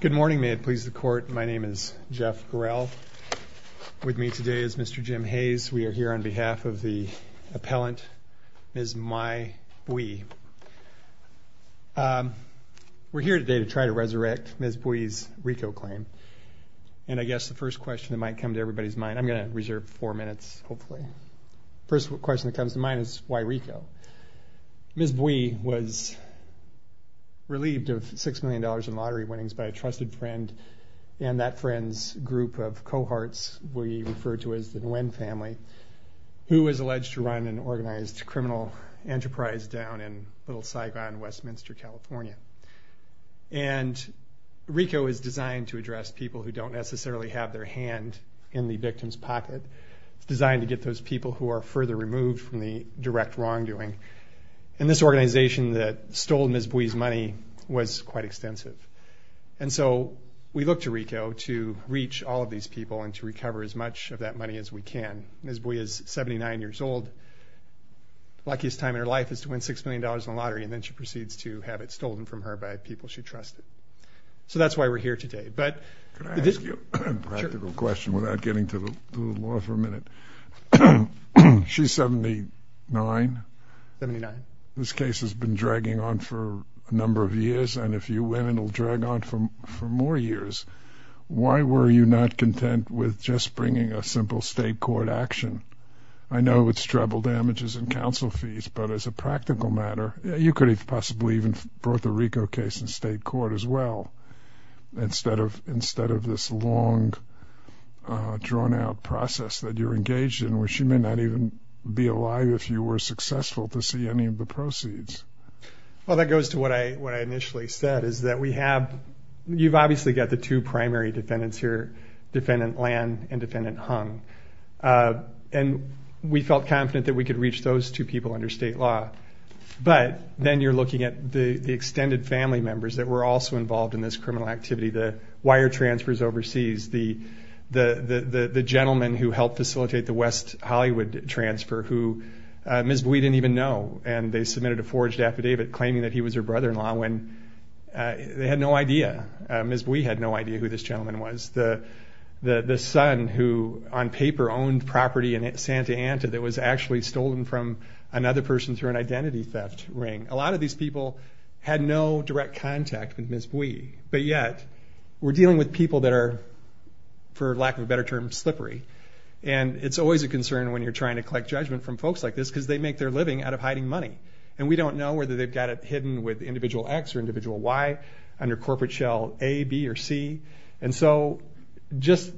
Good morning, may it please the court. My name is Jeff Gorel. With me today is Mr. Jim Hayes. We are here on behalf of the appellant, Ms. Mai Bui. We're here today to try to resurrect Ms. Bui's RICO claim. And I guess the first question that might come to everybody's mind, I'm gonna reserve four minutes hopefully, first question that comes to mind is why RICO? Ms. Bui was relieved of six million dollars in lottery winnings by a trusted friend. And that friend's group of cohorts we refer to as the Nguyen family, who was alleged to run an organized criminal enterprise down in Little Saigon, Westminster, California. And RICO is designed to address people who don't necessarily have their hand in the victim's pocket. Designed to get those people who are further removed from the direct wrongdoing. And this organization that stole Ms. Bui's money was quite extensive. And so we look to RICO to reach all of these people and to recover as much of that money as we can. Ms. Bui is 79 years old. Luckiest time in her life is to win six million dollars in the lottery and then she proceeds to have it stolen from her by people she trusted. So that's why we're here today. But... Can I ask you a practical question without getting to the law for a minute? She's 79? 79. This case has been dragging on for a number of years and if you win it'll drag on from for more years. Why were you not content with just bringing a simple state court action? I know it's treble damages and counsel fees, but as a practical matter, you could have possibly even brought the RICO case in state court as well. Instead of instead of this long, drawn-out process that you're engaged in, where she may not even be alive if you were successful to see any of the proceeds. Well that goes to what I what I initially said, is that we have, you've obviously got the two primary defendants here, Defendant Lan and Defendant Hung. And we felt confident that we could reach those two people under state law. But then you're looking at the the extended family members that were also involved in this criminal activity, the wire transfers overseas, the gentleman who helped facilitate the West Hollywood transfer, who Ms. Bui didn't even know. And they submitted a forged affidavit claiming that he was her brother-in-law when they had no idea. Ms. Bui had no idea who this gentleman was. The son who on paper owned property in Santa Anta that was actually stolen from another person through an identity theft ring. A lot of these people had no direct contact with Ms. Bui, but yet we're dealing with people that are, for lack of a better term, slippery. And it's always a concern when you're trying to collect judgment from folks like this, because they make their living out of hiding money. And we don't know whether they've got it hidden with individual X or individual Y, under corporate shell A, B, or C. And so just,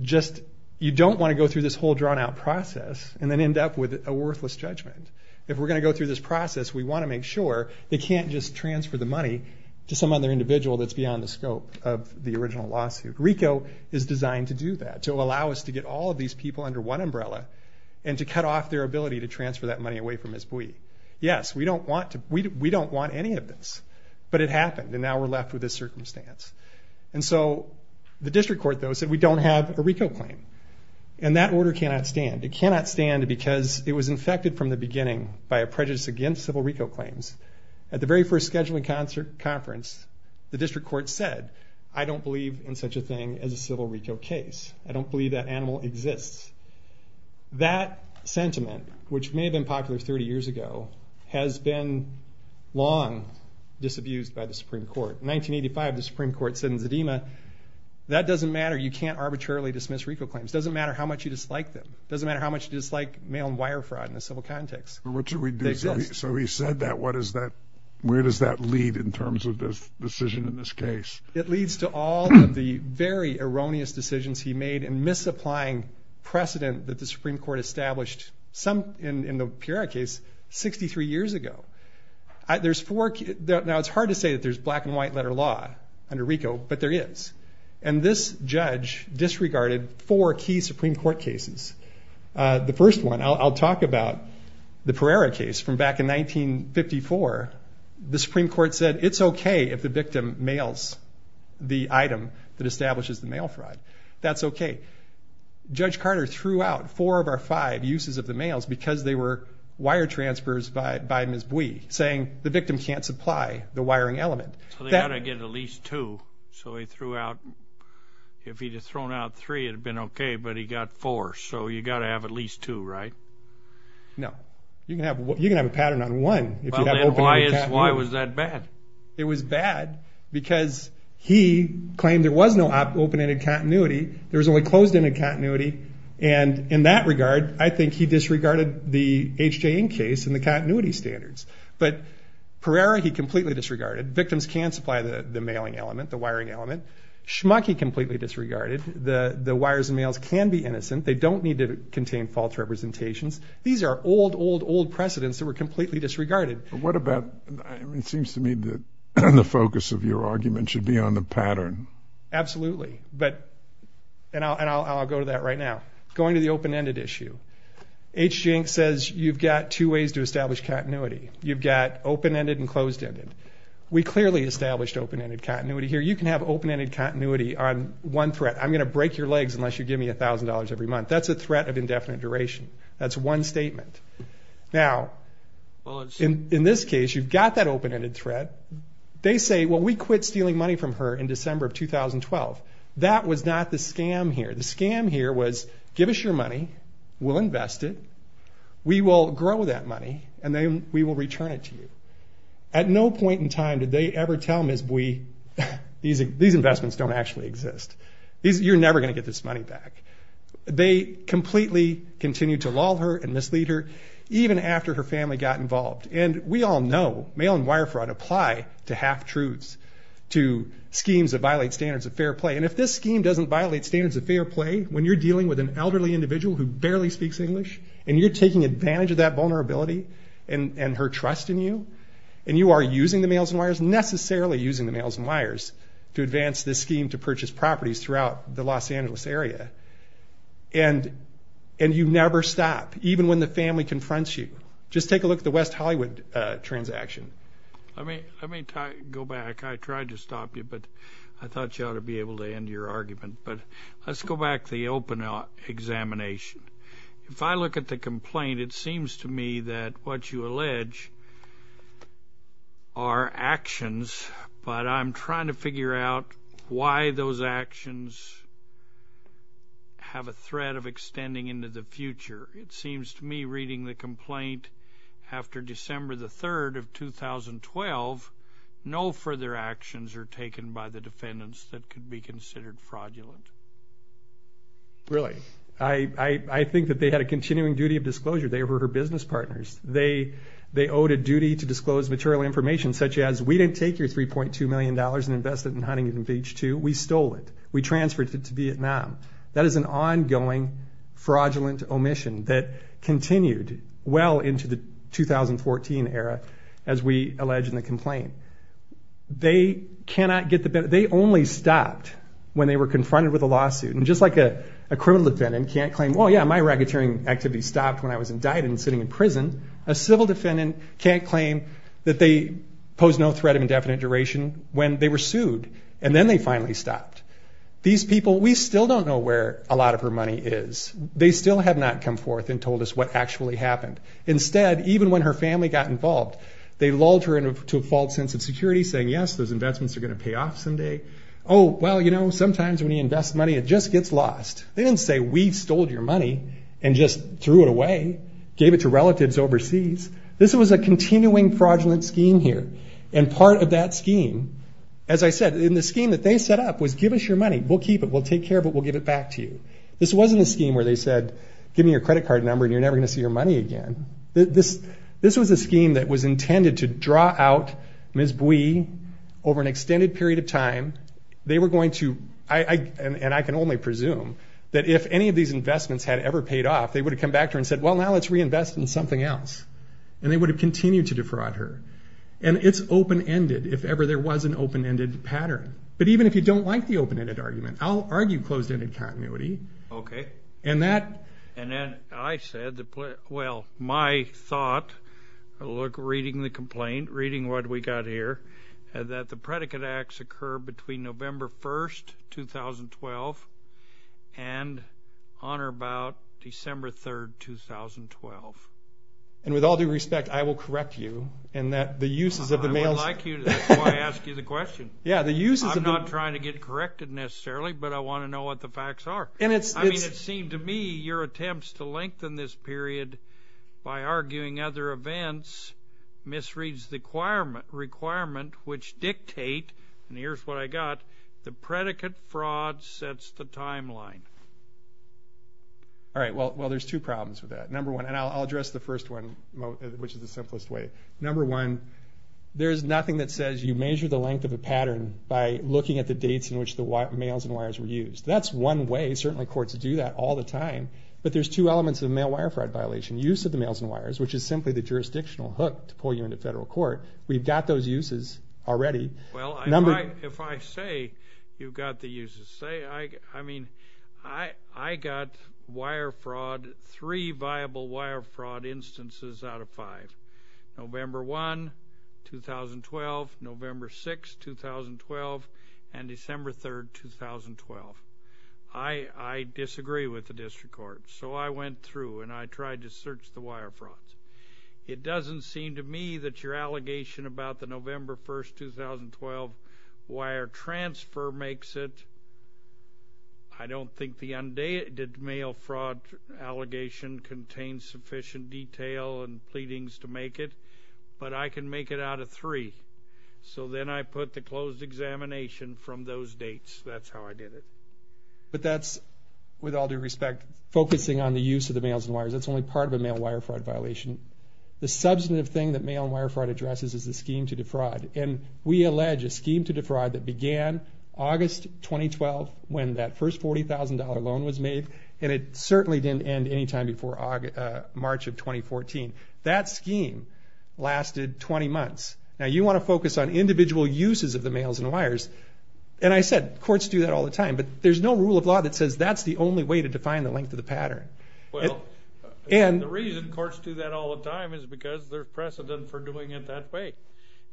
just, you don't want to go through this whole drawn-out process and then end up with a worthless judgment. If we're going to go through this process, we want to make sure they can't just transfer the money to some other individual that's beyond the scope of the original lawsuit. RICO is designed to do that, to allow us to get all of these people under one umbrella and to cut off their ability to transfer that money away from Ms. Bui. Yes, we don't want to, we don't want any of this, but it happened and now we're left with this circumstance. And so the district court, though, said we don't have a RICO claim. And that order cannot stand. It cannot stand because it was infected from the beginning by a prejudice against civil RICO claims. At the very first scheduling conference, the district court said, I don't believe in such a thing as a civil RICO case. I don't believe that animal exists. That sentiment, which may have been popular 30 years ago, has been long disabused by the Supreme Court. In 1985, the Supreme Court said in Zedema, that doesn't matter. You can't arbitrarily dismiss RICO claims. Doesn't matter how much you dislike them. Doesn't matter how much you dislike mail and wire fraud in a civil context. But what should we do? So he said that, what is that, where does that lead in terms of this decision in this case? It leads to all of the very erroneous decisions he made in misapplying precedent that the Supreme Court established some, in the Pereira case, 63 years ago. There's four, now it's hard to say that there's black and white letter law under RICO, but there is. And this judge disregarded four key Supreme Court cases. The first one, I'll talk about the Pereira case from back in 1954. The Supreme Court said it's okay if the victim mails the item that establishes the mail fraud. That's okay. Judge Carter threw out four of our five uses of the mails because they were wire transfers by Ms. Bui, saying the victim can't supply the wiring element. So they ought to get at least two. So he threw out, if he'd have thrown out three it'd have been okay, but he got four. So you can have a pattern on one. Why was that bad? It was bad because he claimed there was no open-ended continuity, there was only closed-ended continuity, and in that regard, I think he disregarded the H. J. Ng case and the continuity standards. But Pereira, he completely disregarded. Victims can supply the mailing element, the wiring element. Schmuck, he completely disregarded. The wires and mails can be innocent. They don't need to contain false representations. These are old, old, old precedents that were completely disregarded. What about, it seems to me that the focus of your argument should be on the pattern. Absolutely, but, and I'll go to that right now. Going to the open-ended issue, H. J. Ng says you've got two ways to establish continuity. You've got open-ended and closed-ended. We clearly established open-ended continuity here. You can have open-ended continuity on one threat. I'm gonna break your legs unless you give me a thousand dollars every month. That's a threat of indefinite duration. That's one statement. Now, in this case, you've got that open-ended threat. They say, well, we quit stealing money from her in December of 2012. That was not the scam here. The scam here was, give us your money, we'll invest it, we will grow that money, and then we will return it to you. At no point in time did they ever tell Ms. Bui, these investments don't actually exist. You're never gonna get this money back. They completely continued to lull her and mislead her, even after her family got involved. And we all know, mail and wire fraud apply to half-truths, to schemes that violate standards of fair play. And if this scheme doesn't violate standards of fair play, when you're dealing with an elderly individual who barely speaks English, and you're taking advantage of that vulnerability and her trust in you, and you are using the mails and wires, necessarily using the mails and wires to advance this scheme to purchase properties throughout the Los Angeles area, and you never stop, even when the family confronts you. Just take a look at the West Hollywood transaction. Let me go back. I tried to stop you, but I thought you ought to be able to end your argument. But let's go back to the open examination. If I look at the complaint, it seems to me that what you allege are actions, but I'm trying to have a thread of extending into the future. It seems to me, reading the complaint, after December the 3rd of 2012, no further actions are taken by the defendants that could be considered fraudulent. Really? I think that they had a continuing duty of disclosure. They were her business partners. They owed a duty to disclose material information, such as, we didn't take your $3.2 million and invest it in Huntington Beach, too. We stole it. We transferred it to Vietnam. That is an ongoing fraudulent omission that continued well into the 2014 era, as we allege in the complaint. They cannot get the... They only stopped when they were confronted with a lawsuit. And just like a criminal defendant can't claim, well, yeah, my racketeering activity stopped when I was indicted and sitting in prison, a civil defendant can't claim that they posed no threat of indefinite duration when they were sued, and then they finally stopped. These people, we still don't know where a lot of her money is. They still have not come forth and told us what actually happened. Instead, even when her family got involved, they lulled her into a false sense of security, saying, yes, those investments are gonna pay off someday. Oh, well, sometimes when you invest money, it just gets lost. They didn't say, we stole your money and just threw it away, gave it to relatives overseas. This was a continuing fraudulent scheme here. And part of that scheme, as I said, in the scheme that they set up was give us your money, we'll keep it, we'll take care of it, we'll give it back to you. This wasn't a scheme where they said, give me your credit card number and you're never gonna see your money again. This was a scheme that was intended to draw out Ms. Bui over an extended period of time. They were going to... And I can only presume that if any of these investments had ever paid off, they would have come back to her and said, well, now let's reinvest in something else. And they would have continued to defraud her. And it's open ended, if ever there was an open ended pattern. But even if you don't like the open ended argument, I'll argue closed ended continuity. Okay. And that... And then I said, well, my thought, look, reading the complaint, reading what we got here, that the predicate acts occur between November 1st, 2012 and on or about December 3rd, 2012. And with all due respect, I will correct you in that the uses of the mail... I would like you to, that's why I ask you the question. Yeah, the uses of the... I'm not trying to get corrected necessarily, but I wanna know what the facts are. And it's... I mean, it seemed to me your attempts to lengthen this period by arguing other events misreads the requirement which dictate, and here's what I got, the predicate fraud sets the timeline. Alright, well, there's two problems with that. Number one, and I'll address the first one, which is the simplest way. Number one, there's nothing that says you measure the length of a pattern by looking at the dates in which the mails and wires were used. That's one way, certainly courts do that all the time, but there's two elements of mail wire fraud violation. Use of the mails and wires, which is simply the jurisdictional hook to pull you into federal court. We've got those uses already. Well, if I say you've got the uses, say... I mean, I got wire fraud, three viable wire fraud instances out of five. November 1, 2012, November 6, 2012, and December 3, 2012. I disagree with the district court, so I went through and I said, it doesn't seem to me that your allegation about the November 1, 2012 wire transfer makes it. I don't think the undated mail fraud allegation contains sufficient detail and pleadings to make it, but I can make it out of three. So then I put the closed examination from those dates. That's how I did it. But that's, with all due respect, focusing on the use of the mails and wires, that's only part of a mail wire fraud violation. The substantive thing that mail wire fraud addresses is the scheme to defraud. And we allege a scheme to defraud that began August 2012, when that first $40,000 loan was made, and it certainly didn't end any time before March of 2014. That scheme lasted 20 months. Now, you wanna focus on individual uses of the mails and wires. And I said, courts do that all the time, but there's no rule of law that says that's the only way to define the length of the pattern. Well, the reason courts do that all the time is because there's precedent for doing it that way.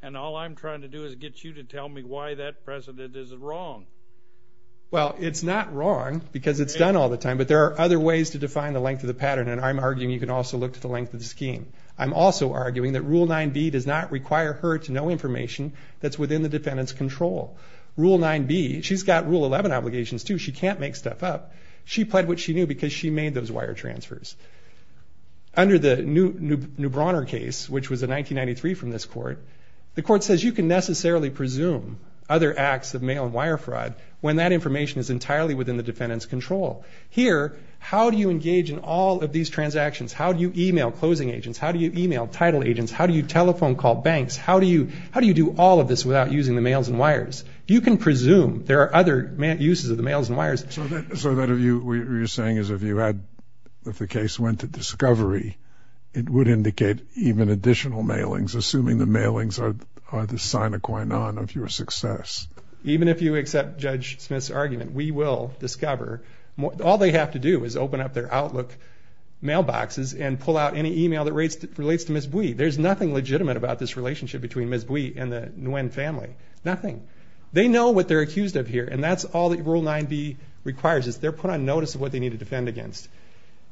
And all I'm trying to do is get you to tell me why that precedent is wrong. Well, it's not wrong because it's done all the time, but there are other ways to define the length of the pattern. And I'm arguing you can also look to the length of the scheme. I'm also arguing that Rule 9B does not require her to know information that's within the defendant's control. Rule 9B, she's got Rule 11 obligations too, she can't make stuff up. She pled what she knew because she made those wire transfers. Under the Neubrauner case, which was a 1993 from this court, the court says you can necessarily presume other acts of mail and wire fraud when that information is entirely within the defendant's control. Here, how do you engage in all of these transactions? How do you email closing agents? How do you email title agents? How do you telephone call banks? How do you do all of this without using the mails and wire? So that if you... What you're saying is if you had... If the case went to discovery, it would indicate even additional mailings, assuming the mailings are the sine qua non of your success. Even if you accept Judge Smith's argument, we will discover... All they have to do is open up their Outlook mailboxes and pull out any email that relates to Ms. Bui. There's nothing legitimate about this relationship between Ms. Bui and the Nguyen family, nothing. They know what they're required to do. They're put on notice of what they need to defend against.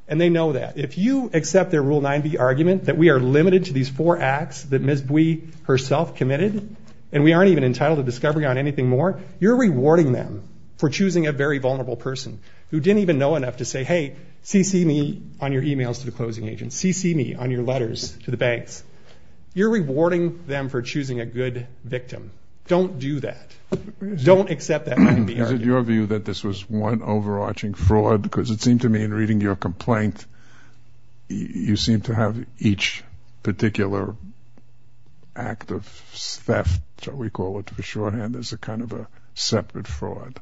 And they know that. If you accept their Rule 9b argument, that we are limited to these four acts that Ms. Bui herself committed, and we aren't even entitled to discovery on anything more, you're rewarding them for choosing a very vulnerable person who didn't even know enough to say, hey, CC me on your emails to the closing agents. CC me on your letters to the banks. You're rewarding them for choosing a good victim. Don't do that. Don't accept that 9b argument. Is it your view that this was one overarching fraud? Because it seemed to me in reading your complaint, you seem to have each particular act of theft, shall we call it for shorthand, as a kind of a separate fraud.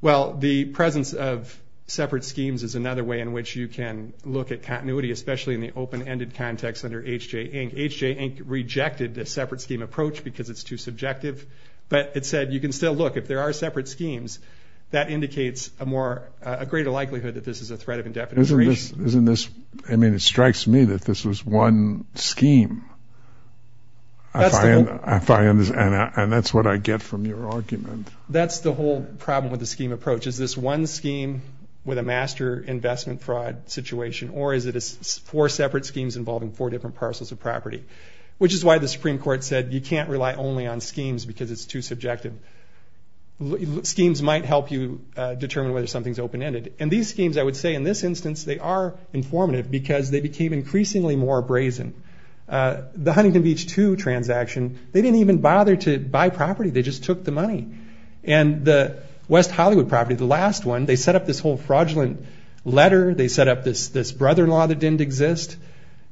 Well, the presence of separate schemes is another way in which you can look at continuity, especially in the open ended context under H.J. Inc. H.J. Inc. rejected the separate scheme approach because it's too subjective. But it said you can still look, if there are separate schemes, that indicates a greater likelihood that this is a threat of indefinite duration. Isn't this... I mean, it strikes me that this was one scheme. And that's what I get from your argument. That's the whole problem with the scheme approach. Is this one scheme with a master investment fraud situation or is it four separate schemes involving four different parcels of property? Which is why the Supreme Court said you can't rely only on schemes because it's too subjective. Schemes might help you determine whether something's open ended. And these schemes, I would say in this instance, they are informative because they became increasingly more brazen. The Huntington Beach 2 transaction, they didn't even bother to buy property, they just took the money. And the West Hollywood property, the last one, they set up this whole fraudulent letter, they set up this brother in law that didn't exist.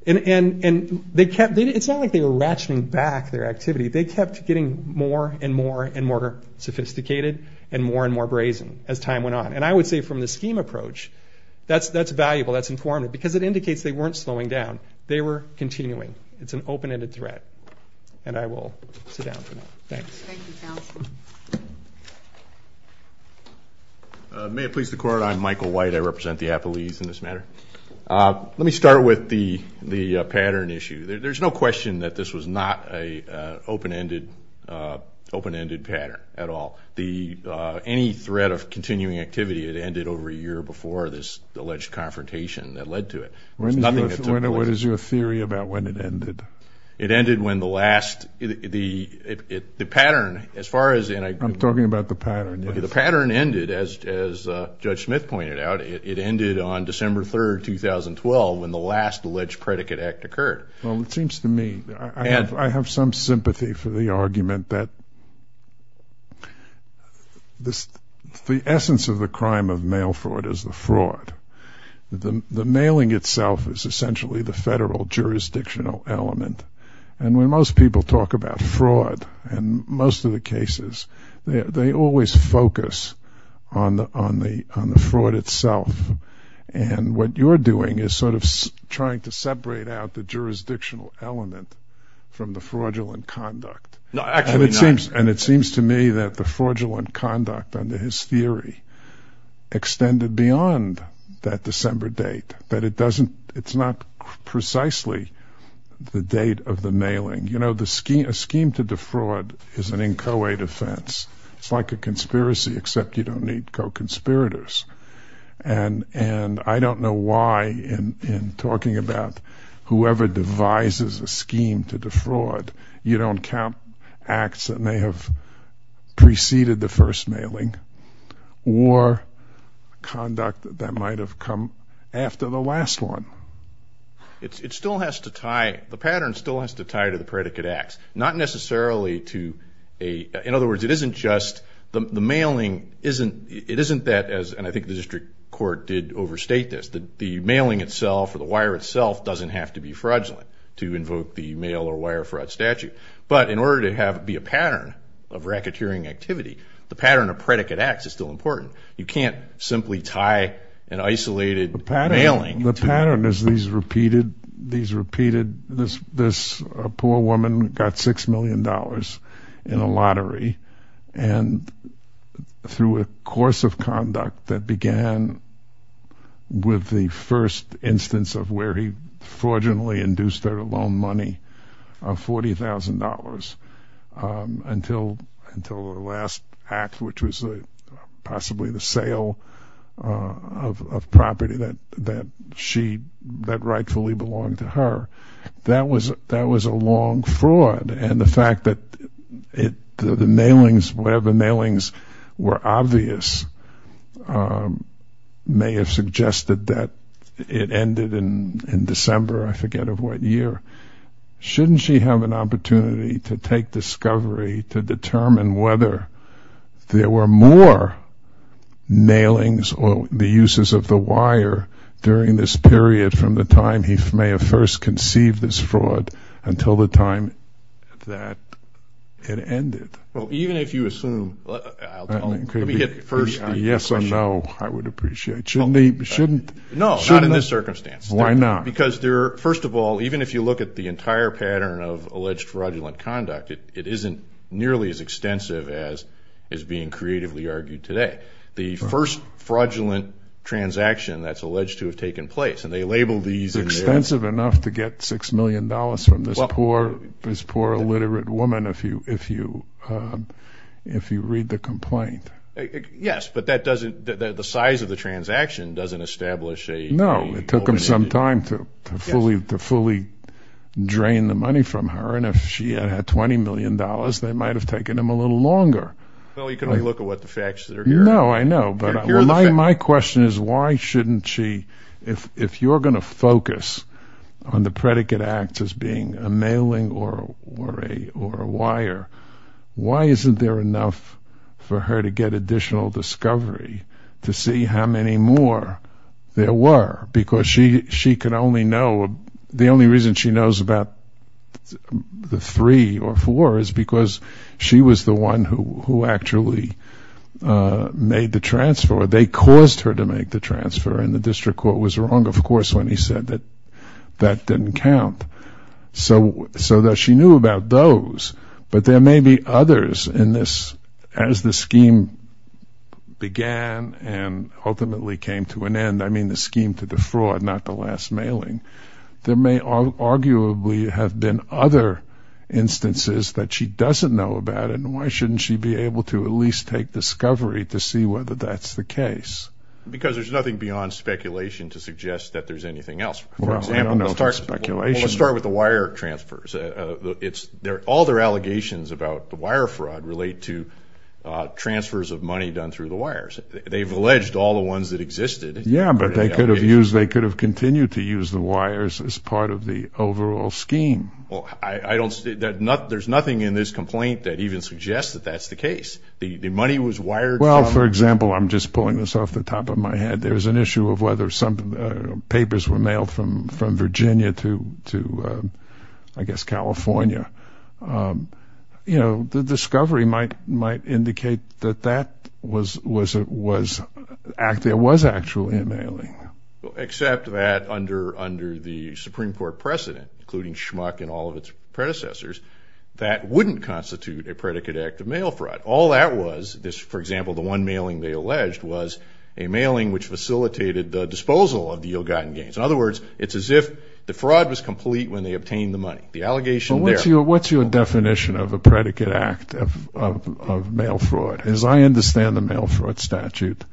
And they kept... It's not like they were ratcheting back their activity, they kept getting more and more and more sophisticated and more and more brazen as time went on. And I would say from the scheme approach, that's valuable, that's informative because it indicates they weren't slowing down, they were continuing. It's an open ended threat. And I will sit down for now. Thanks. Thank you, counsel. May it please the court, I'm Michael White, I represent the Appalese in this matter. Let me start with the pattern issue. There's no question that this was not an open ended pattern at all. Any threat of continuing activity, it ended over a year before this alleged confrontation that led to it. There's nothing that took place... What is your theory about when it ended? It ended when the last... The pattern, as far as... I'm talking about the pattern, yes. Okay, the pattern ended, as Judge Smith pointed out, it ended on December 3rd, 2012, when the last alleged predicate act occurred. Well, it seems to me, I have some sympathy for the argument that the essence of the crime of mail fraud is the fraud. The mailing itself is essentially the federal jurisdictional element. And when most people talk about fraud, in most of the cases, they always focus on the fraud itself. And what you're doing is sort of trying to separate out the jurisdictional element from the fraudulent conduct. No, actually not. And it seems to me that the fraudulent conduct under his theory extended beyond that December date, that it doesn't... It's not precisely the date of the mailing. A scheme to defraud is an inchoate offense. It's like a conspiracy, except you don't need co talking about whoever devises a scheme to defraud. You don't count acts that may have preceded the first mailing or conduct that might have come after the last one. It still has to tie... The pattern still has to tie to the predicate acts, not necessarily to a... In other words, it isn't just... The mailing isn't... It isn't that as... And I think the district court did overstate this, that the mailing itself or the wire itself doesn't have to be fraudulent to invoke the mail or wire fraud statute. But in order to have it be a pattern of racketeering activity, the pattern of predicate acts is still important. You can't simply tie an isolated mailing... The pattern is these repeated... This poor woman got 6 million dollars in a lottery, and through a course of conduct that began with the first instance of where he fraudulently induced her to loan money of $40,000 until the last act, which was possibly the sale of property that she... That rightfully belonged to her. That was a long fraud, and the fact that it... The mailings, whatever mailings were obvious may have suggested that it ended in December, I forget of what year. Shouldn't she have an opportunity to take discovery to determine whether there were more mailings or the uses of the wire during this period from the time he may have first conceived this fraud until the time that it ended? Well, even if you assume... Let me hit first... Yes or no, I would appreciate. Shouldn't he... Shouldn't... No, not in this circumstance. Why not? Because there are... First of all, even if you look at the entire pattern of alleged fraudulent conduct, it isn't nearly as extensive as is being creatively argued today. The first fraudulent transaction that's alleged to have taken place, and they label these... Extensive enough to get $6 million from this poor, illiterate woman if you read the complaint. Yes, but that doesn't... The size of the transaction doesn't establish a... No, it took them some time to fully drain the money from her, and if she had had $20 million, they might have taken them a little longer. Well, you can only look at what the facts that are here... No, I know, but my question is, why shouldn't she... If you're gonna focus on the predicate act as being a mailing or a wire, why isn't there enough for her to get additional discovery to see how many more there were? Because she could only know... The only reason she knows about the three or four is because she was the one who actually made the transfer, or they caused her to make the transfer, and the district court was wrong, of course, when he said that that didn't count. So she knew about those, but there may be others in this as the scheme began and ultimately came to an end. I mean the scheme to the fraud, not the last mailing. There may arguably have been other instances that she doesn't know about, and why shouldn't she be able to at least take discovery to see whether that's the case? Because there's nothing beyond speculation to suggest that there's anything else. Well, I don't know if it's speculation. Well, let's start with the wire transfers. All their allegations about the wire fraud relate to transfers of money done through the wires. They've alleged all the ones that existed... Yeah, but they could have continued to use the wires as part of the overall scheme. Well, there's nothing in this complaint that even suggests that that's the case. The money was wired... Well, for example, I'm just pulling this off the top of my head. There's an issue of whether some papers were mailed from Virginia to, I guess, California. You know, the discovery might indicate that there was actually a mailing. Except that under the Supreme Court precedent, including Schmuck and all of its predecessors, that wouldn't constitute a predicate act of mail fraud. All that was, for example, the one mailing they alleged was a mailing which facilitated the disposal of the ill-gotten gains. In other words, it's as if the fraud was complete when they obtained the money. The allegation there... What's your definition of a predicate act of mail fraud? As I understand the mail fraud statute,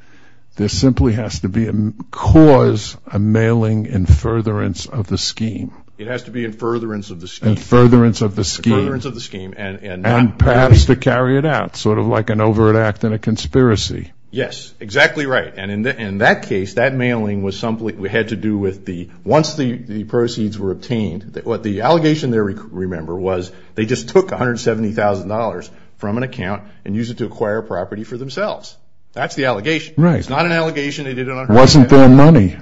there simply has to be a cause, a mailing in furtherance of the scheme. It has to be in furtherance of the scheme. In furtherance of the scheme. In furtherance of the scheme and not... And perhaps to carry it out, sort of like an overt act in a conspiracy. Yes, exactly right. And in that case, that mailing had to do with the... Once the proceeds were obtained, what the allegation there, remember, was they just took $170,000 from an account and used it to acquire property for themselves. That's the allegation. It's not an allegation they did it on purpose. Wasn't their money.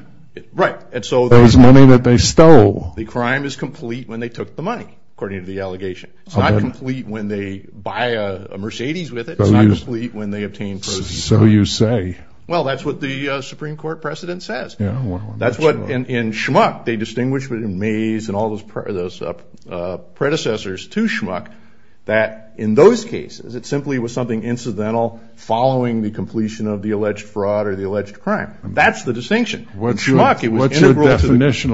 Right. And so... It was money that they stole. The crime is complete when they took the money, according to the allegation. It's not complete when they buy a Mercedes with it. It's not complete when they obtain proceeds. So you say. Well, that's what the Supreme Court precedent says. That's what, in Schmuck, they distinguished between Mays and all those predecessors to Schmuck, that in those cases, it simply was something incidental following the completion of the alleged fraud or the alleged crime. That's the distinction. What's your definition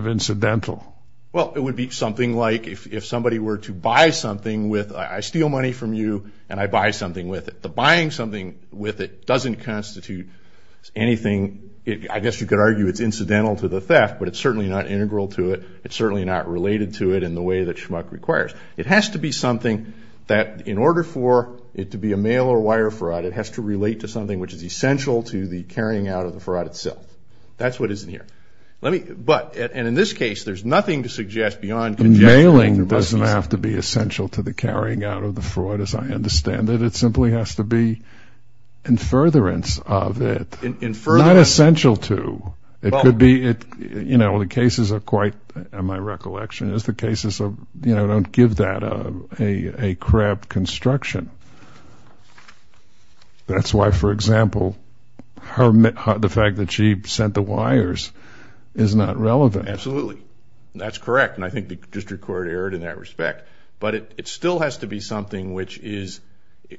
of incidental? Well, it would be something like if somebody were to buy something with, I steal money from you and I buy something with it. The buying something with it doesn't constitute anything. I guess you could argue it's incidental to the theft, but it's certainly not integral to it. It's certainly not related to it in the way that Schmuck requires. It has to be something that in order for it to be a mail or wire fraud, it has to relate to something which is essential to the carrying out of the fraud itself. That's what is in here. Let me, but, and in this case, there's nothing to suggest beyond. The mailing doesn't have to be essential to the carrying out of the fraud, as I understand it. It simply has to be in furtherance of it. In furtherance. Not essential to. It could be, you know, the cases are quite, in my recollection, is the case. That's why, for example, the fact that she sent the wires is not relevant. Absolutely. That's correct. And I think the district court erred in that respect. But it still has to be something which is,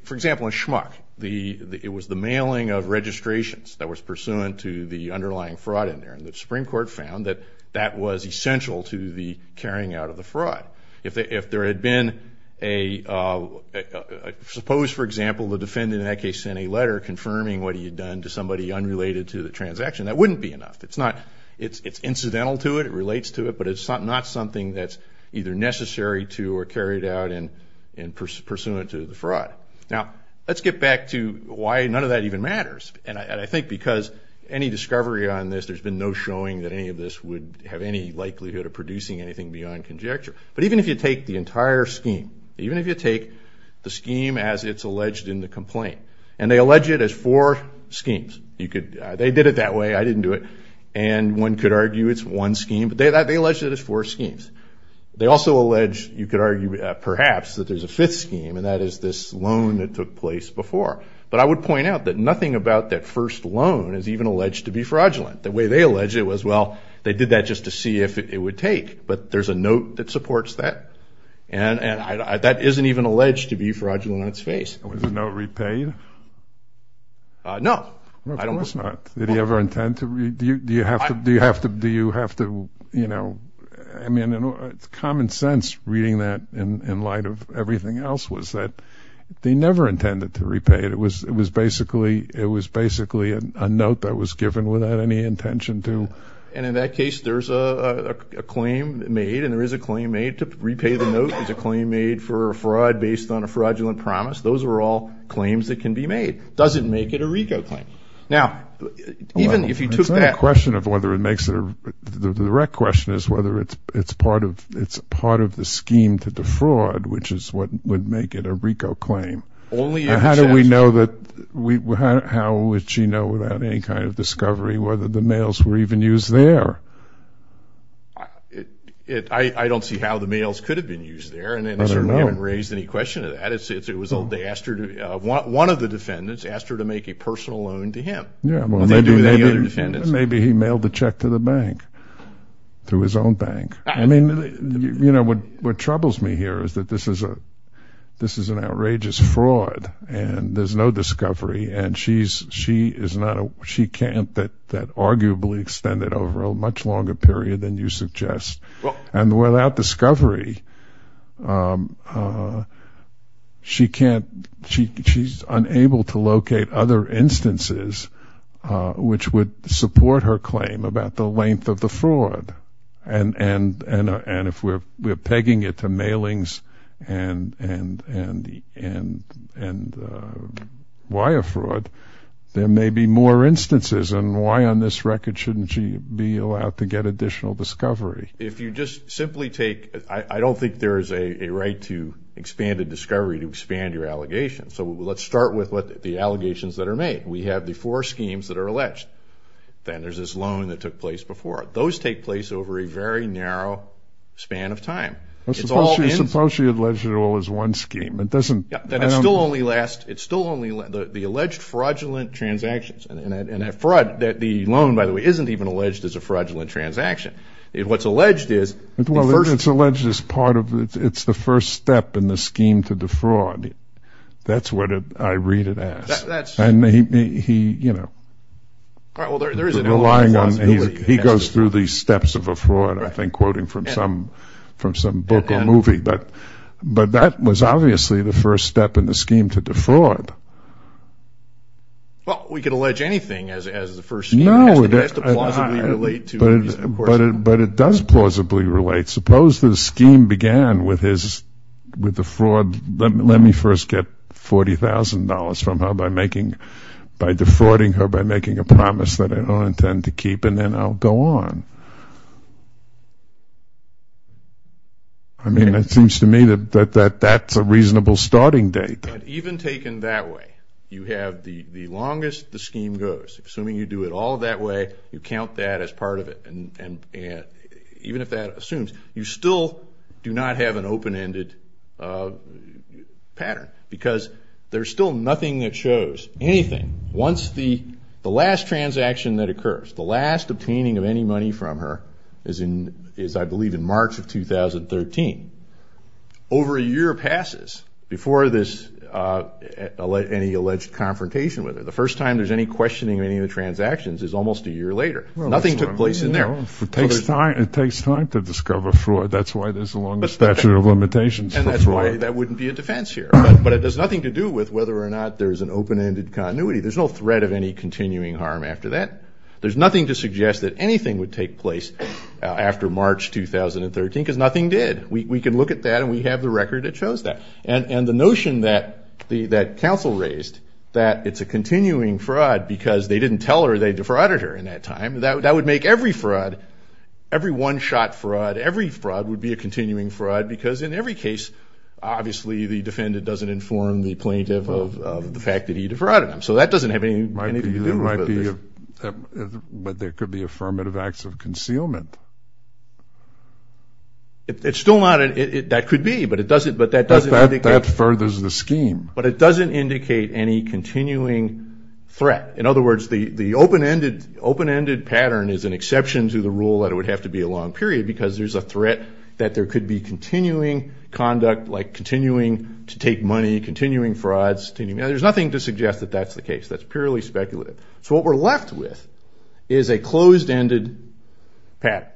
for example, in Schmuck, it was the mailing of registrations that was pursuant to the underlying fraud in there. And the Supreme Court found that that was essential to the carrying out of the fraud. If there had been a, suppose, for example, the defendant in that case sent a letter confirming what he had done to somebody unrelated to the transaction, that wouldn't be enough. It's not, it's incidental to it. It relates to it. But it's not something that's either necessary to or carried out and pursuant to the fraud. Now, let's get back to why none of that even matters. And I think because any discovery on this, there's been no showing that any of this would have any likelihood of producing anything beyond conjecture. But even if you take the entire scheme, even if you take the scheme as it's alleged in the complaint, and they allege it as four schemes, you could, they did it that way, I didn't do it, and one could argue it's one scheme, but they allege it as four schemes. They also allege, you could argue perhaps, that there's a fifth scheme, and that is this loan that took place before. But I would point out that nothing about that first loan is even alleged to be fraudulent. The way they allege it was, well, they did that just to see if it would take, but there's a note that supports that. And that isn't even alleged to be fraudulent on its face. Was the note repaid? No. No, it was not. Did he ever intend to? Do you have to, do you have to, do you have to, you know, I mean, it's common sense reading that in light of everything else was that they never intended to repay it. It was, it was basically, it was basically a note that was given without any intention to. And in that case, there's a claim made, and there is a claim made to repay the note. There's a claim made for a fraud based on a fraudulent promise. Those are all claims that can be made. Does it make it a RICO claim? Now, even if you took that- It's not a question of whether it makes it a, the direct question is whether it's, it's part of, it's part of the scheme to defraud, which is what would make it a RICO claim. Only if- How do we know that we, how would she know without any kind of discovery whether the note was used there? It, I, I don't see how the mails could have been used there. I don't know. And they certainly haven't raised any question of that. It's, it was, they asked her to, one of the defendants asked her to make a personal loan to him. Yeah, well, maybe- What did they do with any other defendants? Maybe he mailed the check to the bank, through his own bank. I mean, you know, what, what troubles me here is that this is a, this is an outrageous fraud, and there's no discovery, and she's, she is not a, she can't, that, that arguably extend it over a much longer period than you suggest. Well- And without discovery, she can't, she, she's unable to locate other instances which would support her claim about the length of the fraud. And, and, and if we're, we're pegging it to mailings and, and, and, and, and wire fraud, there may be more instances. And why on this record shouldn't she be allowed to get additional discovery? If you just simply take, I, I don't think there is a, a right to expand a discovery to expand your allegations. So let's start with what the allegations that are made. We have the four schemes that are alleged. Then there's this loan that took place before. Those take place over a very narrow span of time. Well, suppose she, suppose she alleged it all as one scheme. It doesn't- Yeah, that it still only lasts, it still only, the, the alleged fraudulent transactions, and, and, and fraud, that the loan, by the way, isn't even alleged as a fraudulent transaction. It, what's alleged is- Well, it's alleged as part of, it's, it's the first step in the scheme to defraud. That's what I read it as. That's- And he, he, you know- All right, well, there, there is an allegation- But, but that was obviously the first step in the scheme to defraud. Well, we could allege anything as, as the first scheme. No, it- It has to plausibly relate to- But, but it, but it does plausibly relate. Suppose the scheme began with his, with the fraud, let, let me first get $40,000 from her by making, by defrauding her by making a promise that I don't intend to keep, and then I'll go on. I mean, it seems to me that, that, that, that's a reasonable starting date. But even taken that way, you have the, the longest the scheme goes. Assuming you do it all that way, you count that as part of it, and, and, and, even if that assumes, you still do not have an open-ended pattern, because there's still nothing that shows anything. Once the, the last transaction that occurs, the last obtaining of any money from her is in, is I believe in March of 2013. Over a year passes before this, any alleged confrontation with her. The first time there's any questioning of any of the transactions is almost a year later. Nothing took place in there. Well, that's what I mean. It takes time, it takes time to discover fraud. That's why there's the longest statute of limitations for fraud. And that's why that wouldn't be a defense here. But, but it has nothing to do with whether or not there's an open-ended continuity. There's no threat of any continuing harm after that. There's nothing to suggest that anything would take place after March 2013, because nothing did. We, we can look at that, and we have the record that shows that. And, and the notion that the, that counsel raised, that it's a continuing fraud because they didn't tell her, they defrauded her in that time, that, that would make every fraud, every one-shot fraud, every fraud would be a continuing fraud, because in every case, obviously, the defendant doesn't inform the plaintiff of, of the fact that he defrauded them. So that doesn't have anything to do with it. Might be, there might be, but there could be affirmative acts of concealment. It, it's still not, it, it, that could be, but it doesn't, but that doesn't indicate. But that, that furthers the scheme. But it doesn't indicate any continuing threat. In other words, the, the open-ended, open-ended pattern is an exception to the rule that it would have to be a long period, because there's a threat that there could be continuing conduct, like continuing to take money, continuing frauds, continuing, and there's nothing to suggest that that's the case. That's purely speculative. So what we're left with is a closed-ended pattern.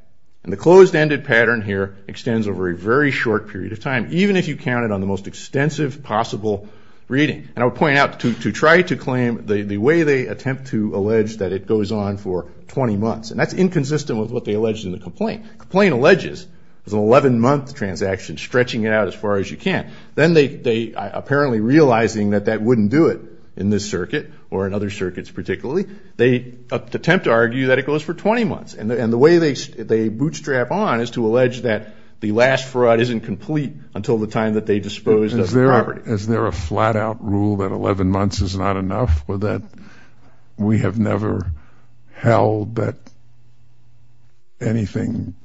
And the closed-ended pattern here extends over a very short period of time, even if you counted on the most extensive possible reading. And I would point out, to, to try to claim the, the way they attempt to allege that it goes on for 20 months, and that's inconsistent with what they allege in the complaint. The complaint alleges it's an 11-month transaction, stretching it out as far as you can. Then they, they, apparently realizing that that wouldn't do it in this circuit, or in other circuits particularly, they attempt to argue that it goes for 20 months. And, and the way they, they bootstrap on is to allege that the last fraud isn't complete until the time that they dispose of the property. Is there, is there a flat-out rule that 11 months is not enough, or that we have never held that anything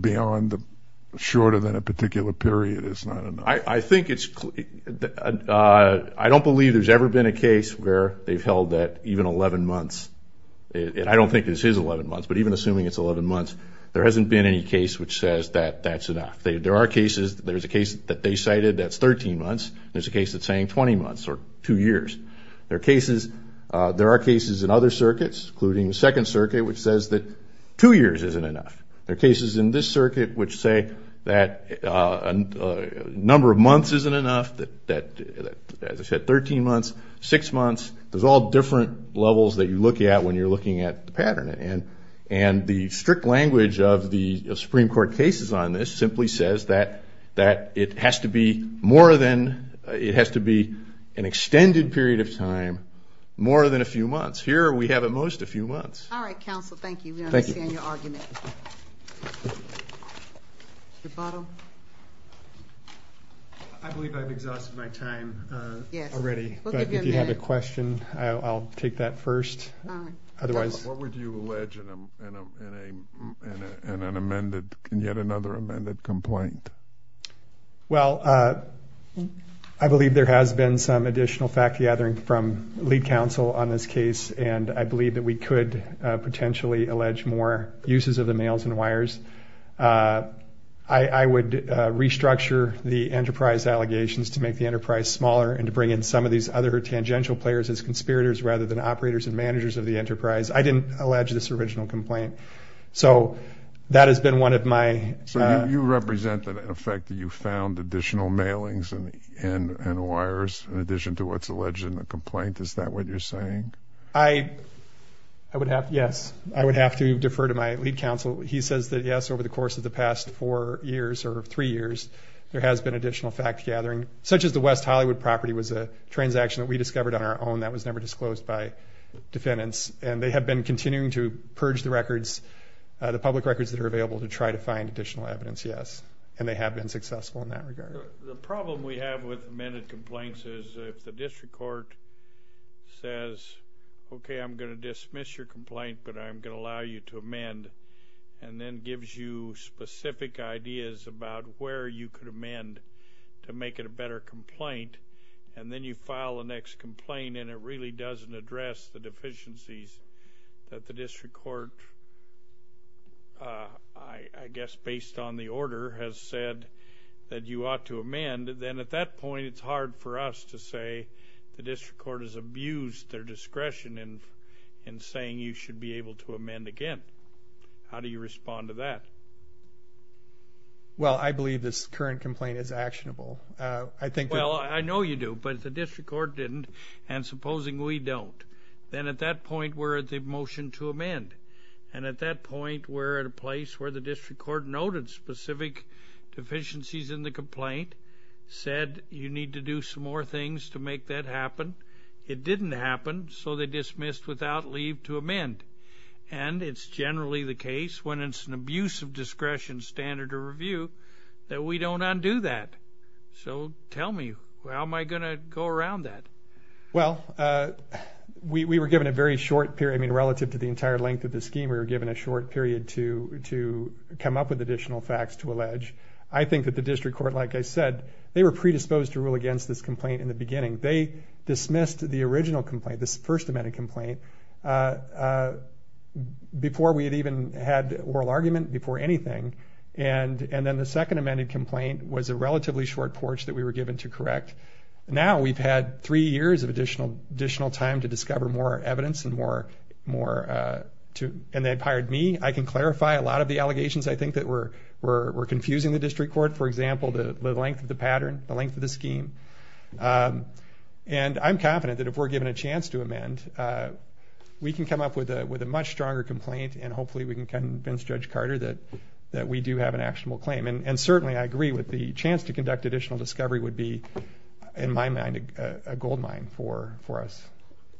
beyond the, shorter than a particular period is not enough? I, I think it's, I don't believe there's ever been a case where they've held that even 11 months, and I don't think this is 11 months, but even assuming it's 11 months, there hasn't been any case which says that, that's enough. There are cases, there's a case that they cited that's 13 months, there's a case that's saying 20 months, or two years. There are cases, there are cases in other circuits, including the Second Circuit, which says that two years isn't enough. There are cases in this circuit which say that a number of months isn't enough, that, that, as I said, 13 months, six months. There's all different levels that you look at when you're looking at the pattern. And, and the strict language of the Supreme Court cases on this simply says that, that it has to be more than, it has to be an extended period of time, more than a few months. Here we have at most a few months. All right, counsel, thank you. Thank you. We understand your argument. Mr. Bottom? I believe I've exhausted my time already. Yes. We'll give you a minute. But if you have a question, I'll take that first. All right. Otherwise... in an amended, in yet another amended complaint. Well, I believe there has been some additional fact-gathering from lead counsel on this case, and I believe that we could potentially allege more uses of the mails and wires. I would restructure the enterprise allegations to make the enterprise smaller and to bring in some of these other tangential players as conspirators rather than operators and managers of the enterprise. I didn't allege this original complaint. So that has been one of my... So you represent, in effect, you found additional mailings and wires in addition to what's alleged in the complaint. Is that what you're saying? I would have, yes. I would have to defer to my lead counsel. He says that, yes, over the course of the past four years or three years, there has been additional fact-gathering, such as the West Hollywood property was a transaction that we discovered on our own that was never disclosed by defendants. And they have been continuing to purge the records, the public records that are available, to try to find additional evidence, yes. And they have been successful in that regard. The problem we have with amended complaints is if the district court says, okay, I'm going to dismiss your complaint, but I'm going to allow you to amend, and then gives you specific ideas about where you could amend to make it a better complaint, and then you file the next complaint and it really doesn't address the deficiencies that the district court, I guess based on the order, has said that you ought to amend, then at that point it's hard for us to say the district court has abused their discretion in saying you should be able to amend again. How do you respond to that? Well, I believe this current complaint is actionable. Well, I know you do, but if the district court didn't, and supposing we don't, then at that point we're at the motion to amend. And at that point we're at a place where the district court noted specific deficiencies in the complaint, said you need to do some more things to make that happen. It didn't happen, so they dismissed without leave to amend. And it's generally the case when it's an abuse of discretion, standard of review, that we don't undo that. So tell me, how am I going to go around that? Well, we were given a very short period, I mean relative to the entire length of the scheme, we were given a short period to come up with additional facts to allege. I think that the district court, like I said, they were predisposed to rule against this complaint in the beginning. They dismissed the original complaint, this first amended complaint, before we had even had oral argument, before anything. And then the second amended complaint was a relatively short porch that we were given to correct. Now we've had three years of additional time to discover more evidence, and they've hired me. I can clarify a lot of the allegations I think that were confusing the district court. For example, the length of the pattern, the length of the scheme. And I'm confident that if we're given a chance to amend, we can come up with a much stronger complaint, and hopefully we can convince Judge Carter that we do have an actionable claim. And certainly I agree with the chance to conduct additional discovery would be, in my mind, a goldmine for us.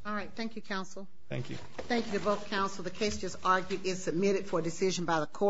All right. Thank you, counsel. Thank you. Thank you to both counsel. The case just argued is submitted for decision by the court.